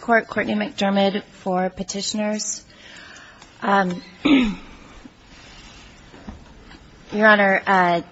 Court, Courtney McDermott for Petitioners. Your Honor, on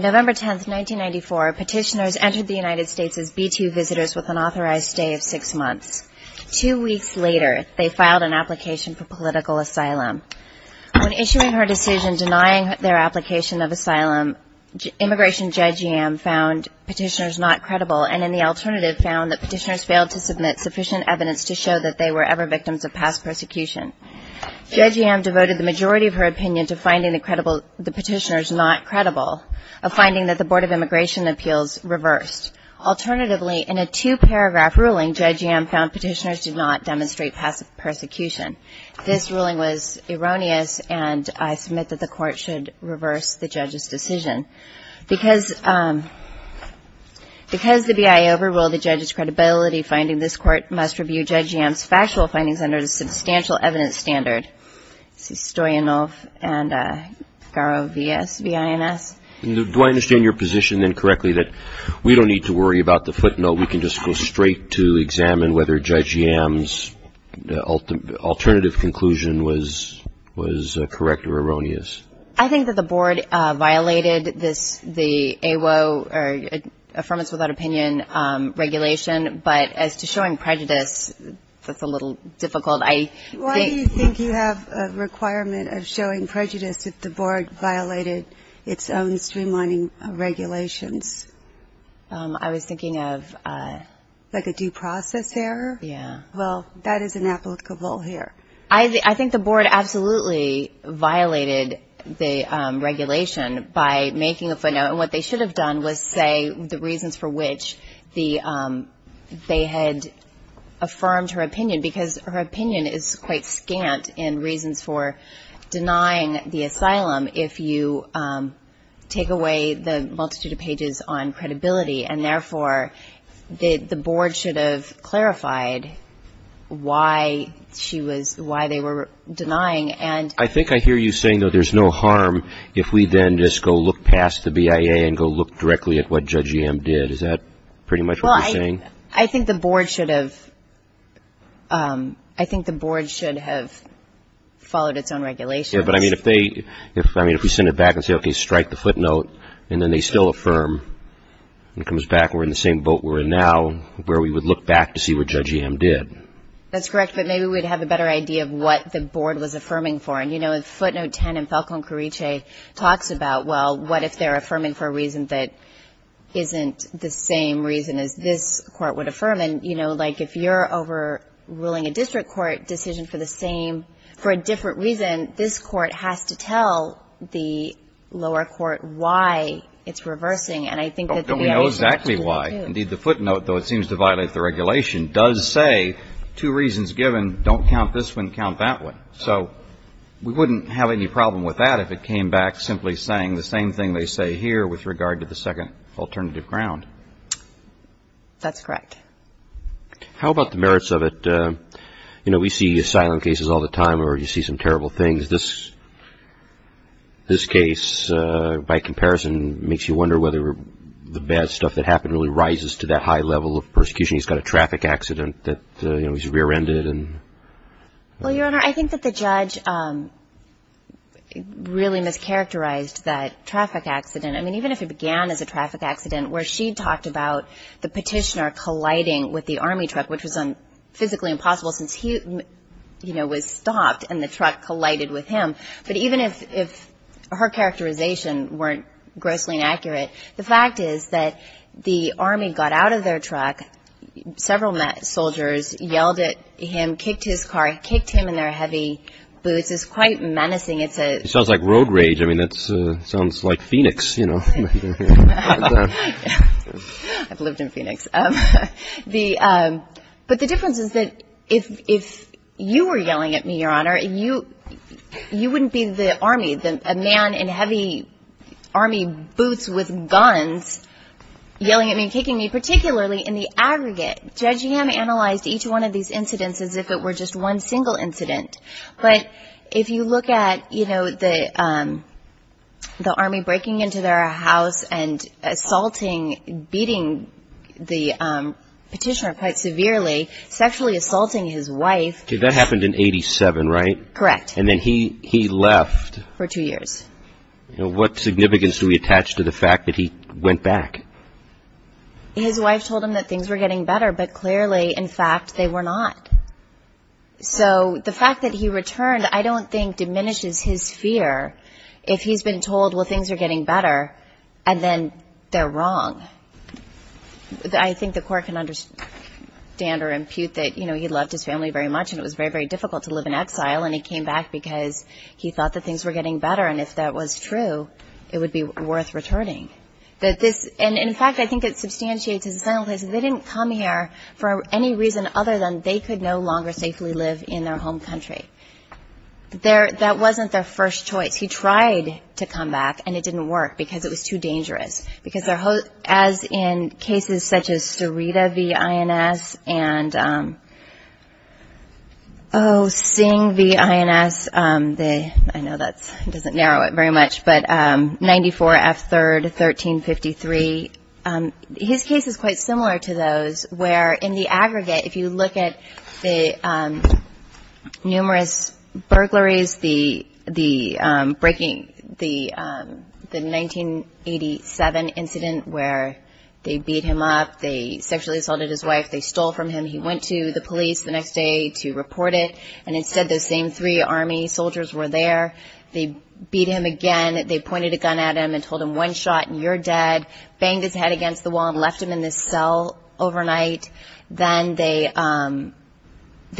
November 10, 1994, Petitioners entered the United States as B-2 visitors with an authorized stay of six months. Two weeks later, they filed an application for political asylum. When issuing her decision denying their application of asylum, Immigration Judge Yam found Petitioners not credible and the alternative found that Petitioners failed to submit sufficient evidence to show that they were ever victims of past persecution. Judge Yam devoted the majority of her opinion to finding the Petitioners not credible, a finding that the Board of Immigration Appeals reversed. Alternatively, in a two-paragraph ruling, Judge Yam found Petitioners did not demonstrate past persecution. This ruling was erroneous, and I submit that the Court should reverse the judge's decision. Because the B.I. overruled the judge's credibility, finding this Court must review Judge Yam's factual findings under the Substantial Evidence Standard, C. Stoyanov and Garovines. Do I understand your position then correctly that we don't need to worry about the footnote? We can just go straight to examine whether Judge Yam's alternative conclusion was correct or erroneous. I think that the Board violated this, the AWO, or Affirmative Without Opinion, regulation. But as to showing prejudice, that's a little difficult. I think Why do you think you have a requirement of showing prejudice if the Board violated its own streamlining regulations? I was thinking of Like a due process error? Yeah. Well, that is inapplicable here. I think the Board absolutely violated the regulation by making a footnote. And what they should have done was say the reasons for which they had affirmed her opinion, because her opinion is quite scant in reasons for denying the asylum if you take away the multitude of pages on credibility. And therefore, the Board should have clarified why she was, why they were denying. I think I hear you saying, though, there's no harm if we then just go look past the BIA and go look directly at what Judge Yam did. Is that pretty much what you're saying? I think the Board should have followed its own regulations. But I mean, if we send it back and say, okay, strike the footnote, and then they still affirm, it comes back, we're in the same boat we're in now, where we would look back to see what Judge Yam did. That's correct. But maybe we'd have a better idea of what the Board was affirming for. And, you know, in footnote 10, in Falcone-Carriche, it talks about, well, what if they're affirming for a reason that isn't the same reason as this Court would affirm? And, you know, like, if you're overruling a district court decision for the same, for a different reason, this Court has to tell the lower court why it's reversing. And I think that the BIA should have told them, too. But we know exactly why. Indeed, the footnote, though it seems to violate the regulation, does say two reasons given, don't count this one, count that one. So we wouldn't have any problem with that if it came back simply saying the same thing they say here with regard to the second alternative ground. That's correct. How about the merits of it? You know, we see asylum cases all the time, or you see some terrible things. This case, by comparison, makes you wonder whether the bad stuff that happened really rises to that high level of persecution. He's got a traffic accident that, you know, he's rear-ended, and... Well, Your Honor, I think that the judge really mischaracterized that traffic accident. I mean, she talked about the petitioner colliding with the Army truck, which was physically impossible since he, you know, was stopped, and the truck collided with him. But even if her characterization weren't grossly inaccurate, the fact is that the Army got out of their truck, several soldiers yelled at him, kicked his car, kicked him in their heavy boots. It's quite menacing. It's a... It sounds like road rage. I mean, it sounds like Phoenix, you know. I've lived in Phoenix. But the difference is that if you were yelling at me, Your Honor, you wouldn't be the Army, a man in heavy Army boots with guns yelling at me and kicking me. Particularly in the aggregate, Judge Ham analyzed each one of these incidents as if it were just one single incident. But if you look at, you know, the Army breaking into their house and assaulting, beating the petitioner quite severely, sexually assaulting his wife... Okay, that happened in 87, right? Correct. And then he left... For two years. What significance do we attach to the fact that he went back? His wife told him that things were getting better, but clearly, in fact, they were not. So the fact that he returned, I don't think diminishes his fear if he's been told, well, things are getting better, and then they're wrong. I think the court can understand or impute that, you know, he loved his family very much and it was very, very difficult to live in exile. And he came back because he thought that things were getting better. And if that was true, it would be worth returning. And in fact, I think it substantiates his assent that they didn't come here for any reason other than they could no longer safely live in their home country. That wasn't their first choice. He tried to come back and it didn't work because it was too dangerous. Because as in cases such as Sarita v. INS and... Oh, Singh v. INS, I know that doesn't narrow it very much, but 94 F. 3rd, 1353. His case is quite similar to those where in the aggregate, if you look at the numerous burglaries, the 1987 incident where they beat him up, they sexually assaulted his wife, they stole from him, he went to the police the next day to report it. And instead, those same three army soldiers were there. They beat him again. They pointed a gun at him and told him, one shot and you're dead. Banged his head against the wall and left him in this cell overnight. Then they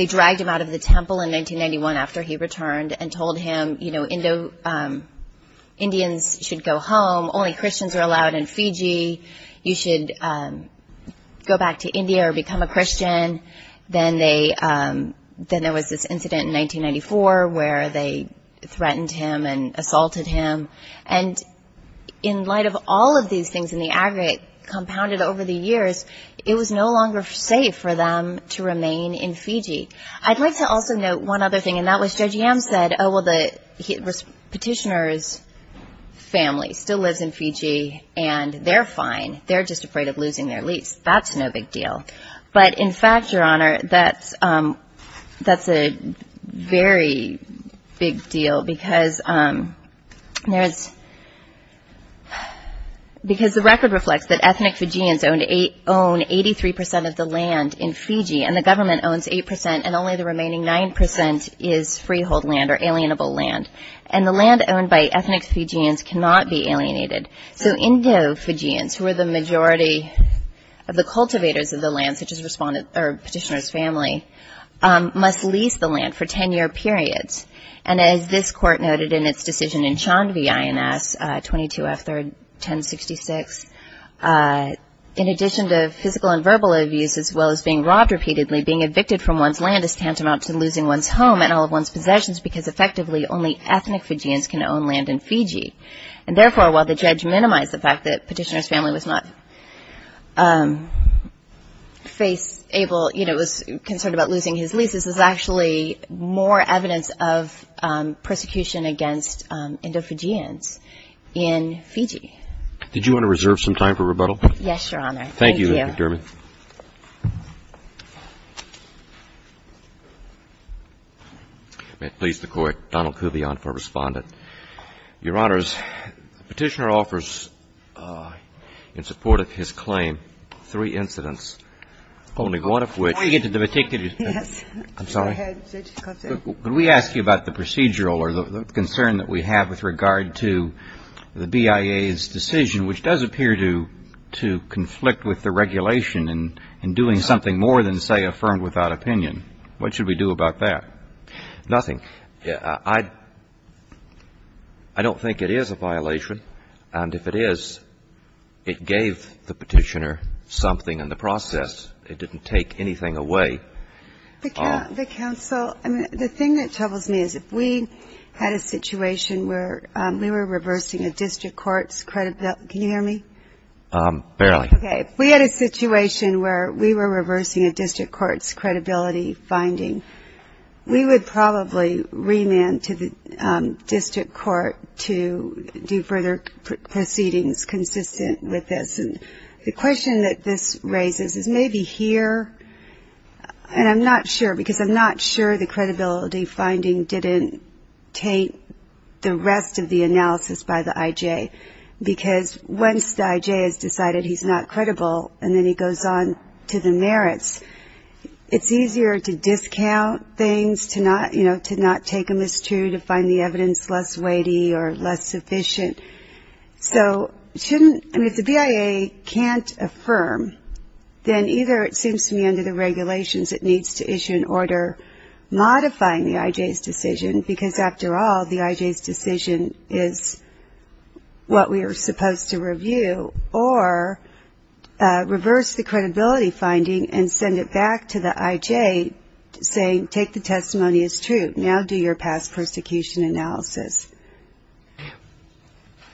dragged him out of the temple in 1991 after he returned and told him, you know, Indians should go home. Only Christians are allowed in Fiji. You should go back to India or become a Christian. Then there was this incident in 1994 where they threatened him and assaulted him. And in light of all of these things in the aggregate compounded over the years, it was no longer safe for them to remain in Fiji. I'd like to also note one other thing and that was Judge Yam said, oh, well, the petitioner's family still lives in Fiji and they're fine. They're just afraid of losing their lease. That's no big deal. But in fact, Your Honor, that's a very big deal because the record reflects that ethnic Fijians own 83% of the land in Fiji and the government owns 8% and only the remaining 9% is freehold land or alienable land. And the land owned by ethnic Fijians cannot be alienated. So Indo-Fijians, who are the majority of the cultivators of the land, such as petitioner's family, must lease the land for 10-year periods. And as this Court noted in its decision in Chandvi INS 22F1066, in addition to physical and verbal abuse as well as being robbed repeatedly, being evicted from one's land is tantamount to losing one's home and all of one's possessions because effectively only ethnic Fijians can own land in Fiji. And therefore, while the petitioner's family was not able, was concerned about losing his lease, this is actually more evidence of persecution against Indo-Fijians in Fiji. Did you want to reserve some time for rebuttal? Yes, Your Honor. Thank you, Ms. McDermott. May it please the Court, Donald Kuvion for Respondent. Your Honors, the petitioner offers, in support of his claim, three incidents, only one of which I want to get to the particular Yes. I'm sorry. Go ahead, Judge Kovtun. Could we ask you about the procedural or the concern that we have with regard to the BIA's decision, which does appear to conflict with the regulation in doing something more than say affirmed without opinion? What should we do about that? Nothing. I don't think it is a violation. And if it is, it gave the petitioner something in the process. It didn't take anything away. The counsel, the thing that troubles me is if we had a situation where we were reversing a district court's credibility. Can you hear me? Barely. Okay. If we had a situation where we were reversing a district court's credibility finding, we would probably remand to the district court to do further proceedings consistent with this. And the question that this raises is maybe here, and I'm not sure because I'm not sure the credibility finding didn't take the rest of the analysis by the IJ because once the IJ has decided he's not credible and then he goes on to the merits, it's easier to discount things, to not take a mistruth, to find the evidence less weighty or less sufficient. So if the BIA can't affirm, then either it seems to me under the regulations it needs to issue an order modifying the IJ's decision because after all the IJ's decision is what we are supposed to review or reverse the credibility finding and send it back to the IJ saying take the testimony as true. Now do your past persecution analysis.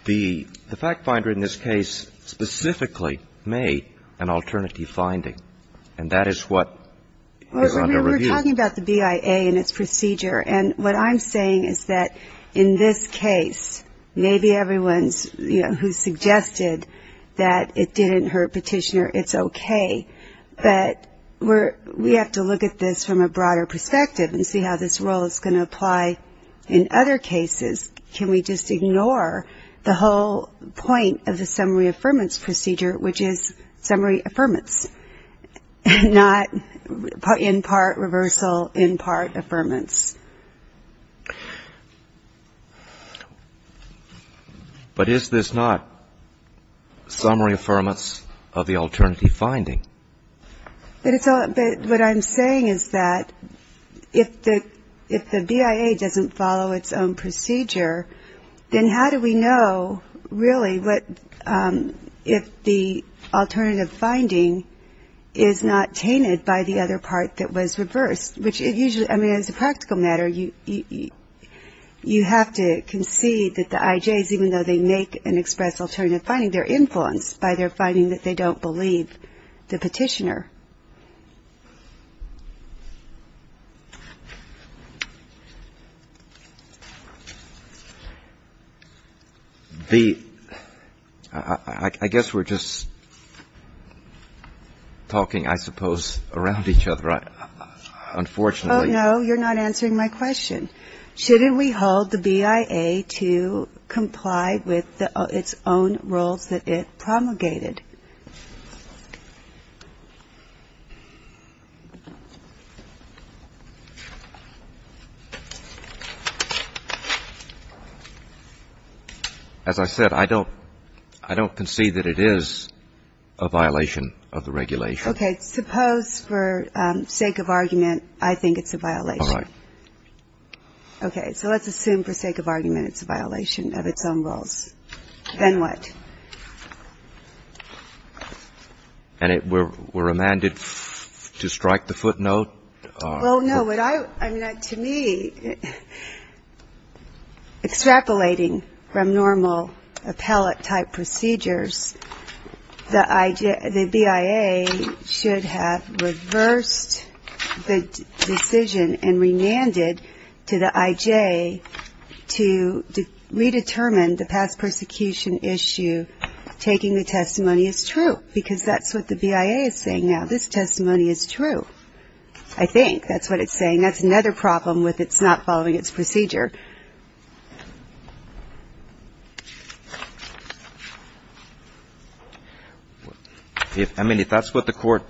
The fact finder in this case specifically made an alternative finding. And that is what is under review. We're talking about the BIA and its procedure. And what I'm saying is that in this case maybe everyone who suggested that it didn't hurt petitioner, it's okay. But we have to look at this from a broader perspective and see how this role is going to apply in other cases. Can we just ignore the whole point of the summary affirmance procedure which is summary affirmance, not in part reversal, in part affirmance. But is this not summary affirmance of the alternative finding? But what I'm saying is that if the BIA doesn't follow its own procedure, then how do we know really what if the alternative finding is not tainted by the other part that was reversed, which is usually, I mean, as a practical matter, you have to concede that the IJs, even though they make an express alternative finding, they're influenced by their finding that they don't believe the petitioner. The ‑‑ I guess we're just talking, I suppose, around each other, aren't we? And fortunately ‑‑ Oh, no, you're not answering my question. Shouldn't we hold the BIA to comply with its own rules that it promulgated? As I said, I don't concede that it is a violation of the regulation. Okay. Suppose for sake of argument, I think it's a violation. All right. Okay. So let's assume for sake of argument it's a violation of its own rules. Then what? And we're remanded to strike the footnote? Well, no, what I ‑‑ I mean, to me, extrapolating from normal appellate-type procedures, the BIA should have reversed the decision and remanded to the IJ to redetermine the past persecution issue, taking the testimony as true, because that's what the BIA is saying now. This testimony is true. I think that's what it's saying. That's another problem with it. It's not following its procedure. I mean, if that's what the court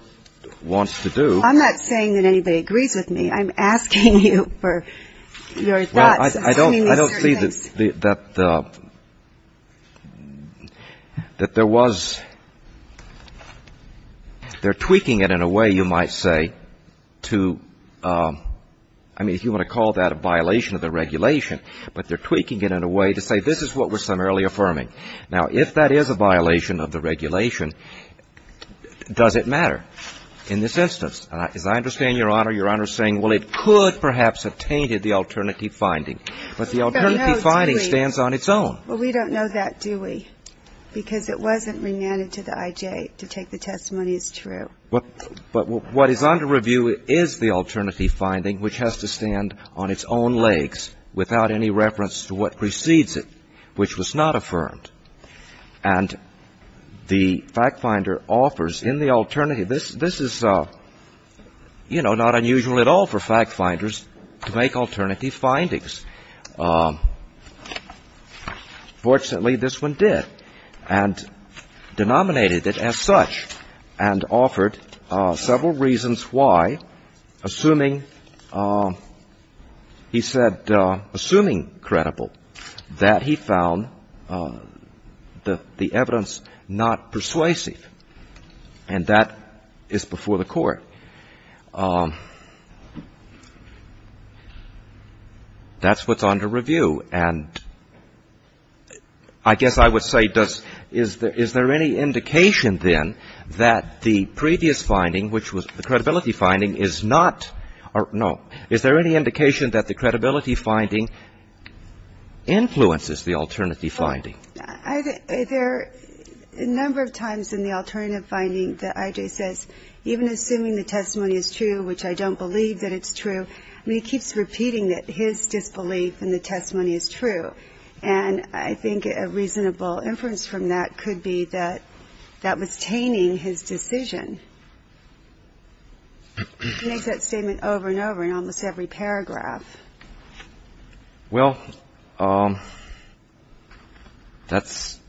wants to do ‑‑ I'm not saying that anybody agrees with me. I'm asking you for your thoughts on some of these certain things. Well, I don't see that there was ‑‑ they're tweaking it in a way, you might say, to ‑‑ I mean, if you want to call that a violation of the regulation, but they're tweaking it in a way to say this is what we're summarily affirming. Now, if that is a violation of the regulation, does it matter in this instance? As I understand, Your Honor, Your Honor is saying, well, it could perhaps have tainted the alternative finding. But the alternative finding stands on its own. Well, we don't know that, do we? Because it wasn't remanded to the IJ to take the testimony as true. But what is under review is the alternative finding, which has to stand on its own legs without any reference to what precedes it, which was not affirmed. And the fact finder offers in the alternative ‑‑ this is, you know, not unusual at all for fact finders to make alternative findings. Fortunately, this one did, and denominated it as such, and offered several reasons why, assuming, he said, assuming credible, that he found the evidence not persuasive. And that is before the Court. That's what's under review. And I guess I would say, does ‑‑ is there any indication, then, that the previous finding, which was the credibility finding, is not ‑‑ no. Is there any indication that the credibility finding influences the alternative finding? There are a number of times in the alternative finding that IJ says, even assuming the testimony is true, which I don't believe that it's true, I mean, he keeps repeating that his disbelief in the testimony is true. And I think a reasonable inference from that could be that that was taming his decision. He makes that statement over and over in almost every paragraph. Well, that's ‑‑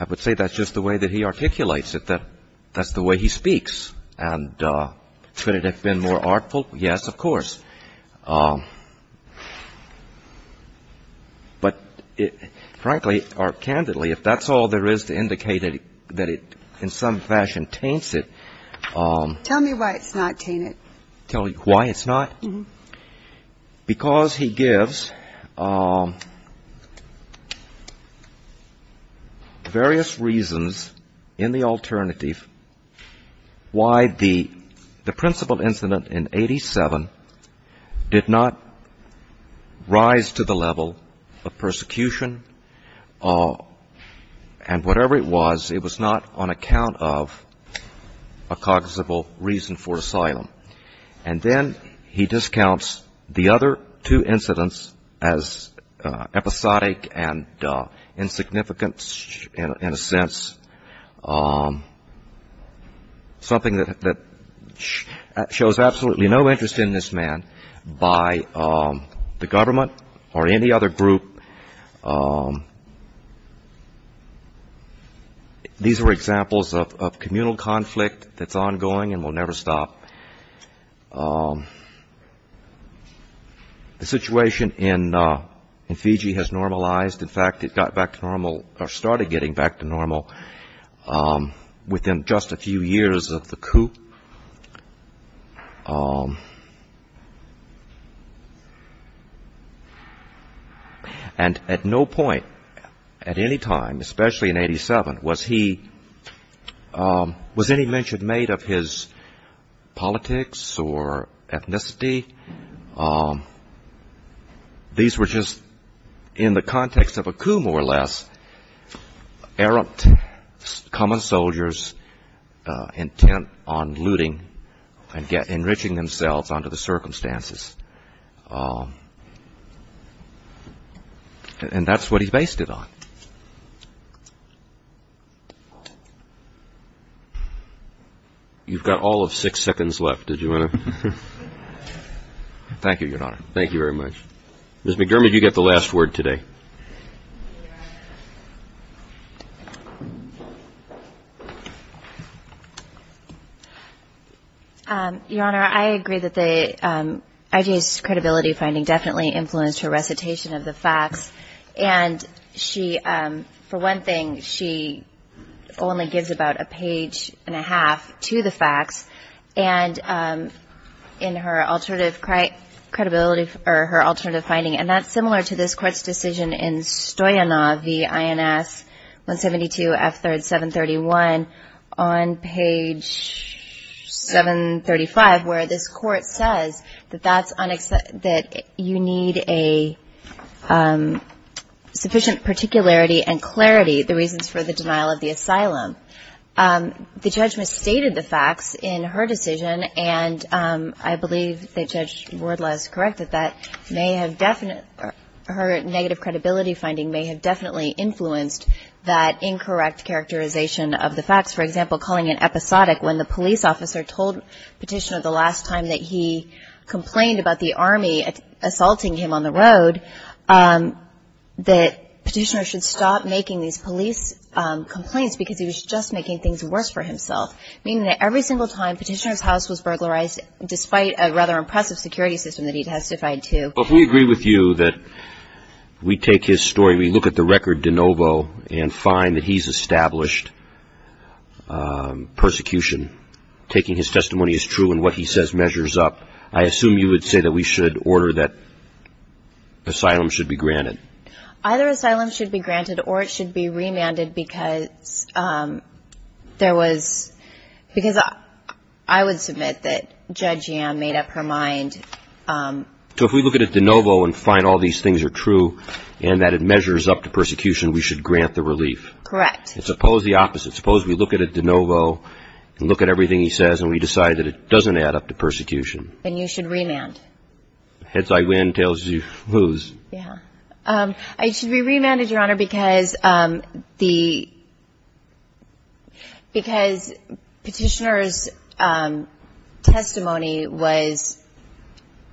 I would say that's just the way that he articulates it, that that's the way he speaks. And could it have been more artful? Yes, of course. But frankly or candidly, if that's all there is to indicate that it in some fashion taints it ‑‑ Tell me why it's not tainted. Tell you why it's not? Because he gives various reasons in the alternative why the principle incident in 87 did not rise to the level of persecution and whatever it was, it was not on account of a cognizable reason for asylum. And then he discounts the other two incidents as episodic and insignificant in a sense. Something that shows absolutely no interest in this man by the government or any other group. These are examples of communal conflict that's ongoing and will never stop. The situation in Fiji has normalized. In fact, it got back to normal or started getting back to normal within just a few years of the coup. And at no point at any time, especially in 87, was he ‑‑ was any mention made of his politics or ethnicity? These were just in the context of a coup more or less, errant common soldiers intent on looting and enriching themselves under the circumstances. And that's what he based it on. You've got all of six seconds left. Did you want to ‑‑ Thank you, Your Honor. Thank you very much. Ms. McDermott, you get the last word today. Your Honor, I agree that the ‑‑ I.J.'s credibility finding definitely influenced her recitation of the facts. And she ‑‑ for one thing, she only gives about a page and a half to the facts. And in her alternative credibility ‑‑ or her alternative finding, and that's similar to this court's decision in Stoyanov v. INS 172 F. 731 on page 735 where this court says that that's ‑‑ that you need a sufficient particularity and clarity, the reasons for the denial of the asylum. The judge misstated the facts in her decision, and I believe that Judge Wardlaw is correct that that may have ‑‑ her negative credibility finding may have definitely influenced that incorrect characterization of the facts. For example, calling it episodic when the police officer told Petitioner the last time that he complained about the Army assaulting him on the road, that Petitioner should stop making these police complaints because he was just making things worse for himself, meaning that every single time Petitioner's house was burglarized, despite a rather impressive security system that he testified to. Well, can we agree with you that we take his story, we look at the record de novo and find that he's established persecution, taking his testimony as true and what he says measures up. I assume you would say that we should order that asylum should be granted. Either asylum should be granted or it should be remanded because there was ‑‑ because I would submit that Judge Yam made up her mind. So if we look at it de novo and find all these things are true and that it measures up to persecution, we should grant the relief. Correct. Suppose the opposite. Suppose we look at it de novo and look at everything he says and we decide that it doesn't add up to persecution. Then you should remand. Heads I win, tails you lose. Yeah. It should be remanded, Your Honor, because the ‑‑ because Petitioner's testimony was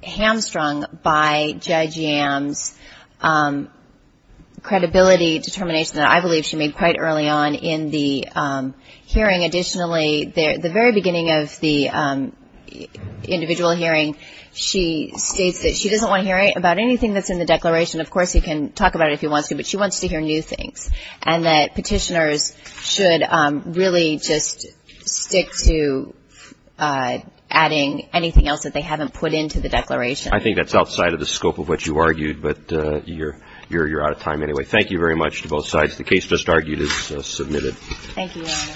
hamstrung by Judge Yam's credibility determination that I believe she made quite early on in the hearing. Additionally, the very beginning of the individual hearing, she states that she doesn't want to hear about anything that's in the declaration. Of course, he can talk about it if he wants to, but she wants to hear new things and that Petitioner's should really just stick to adding anything else that they haven't put into the declaration. I think that's outside of the scope of what you argued, but you're out of time anyway. Thank you very much to both sides. The case just argued is submitted. Thank you, Your Honor.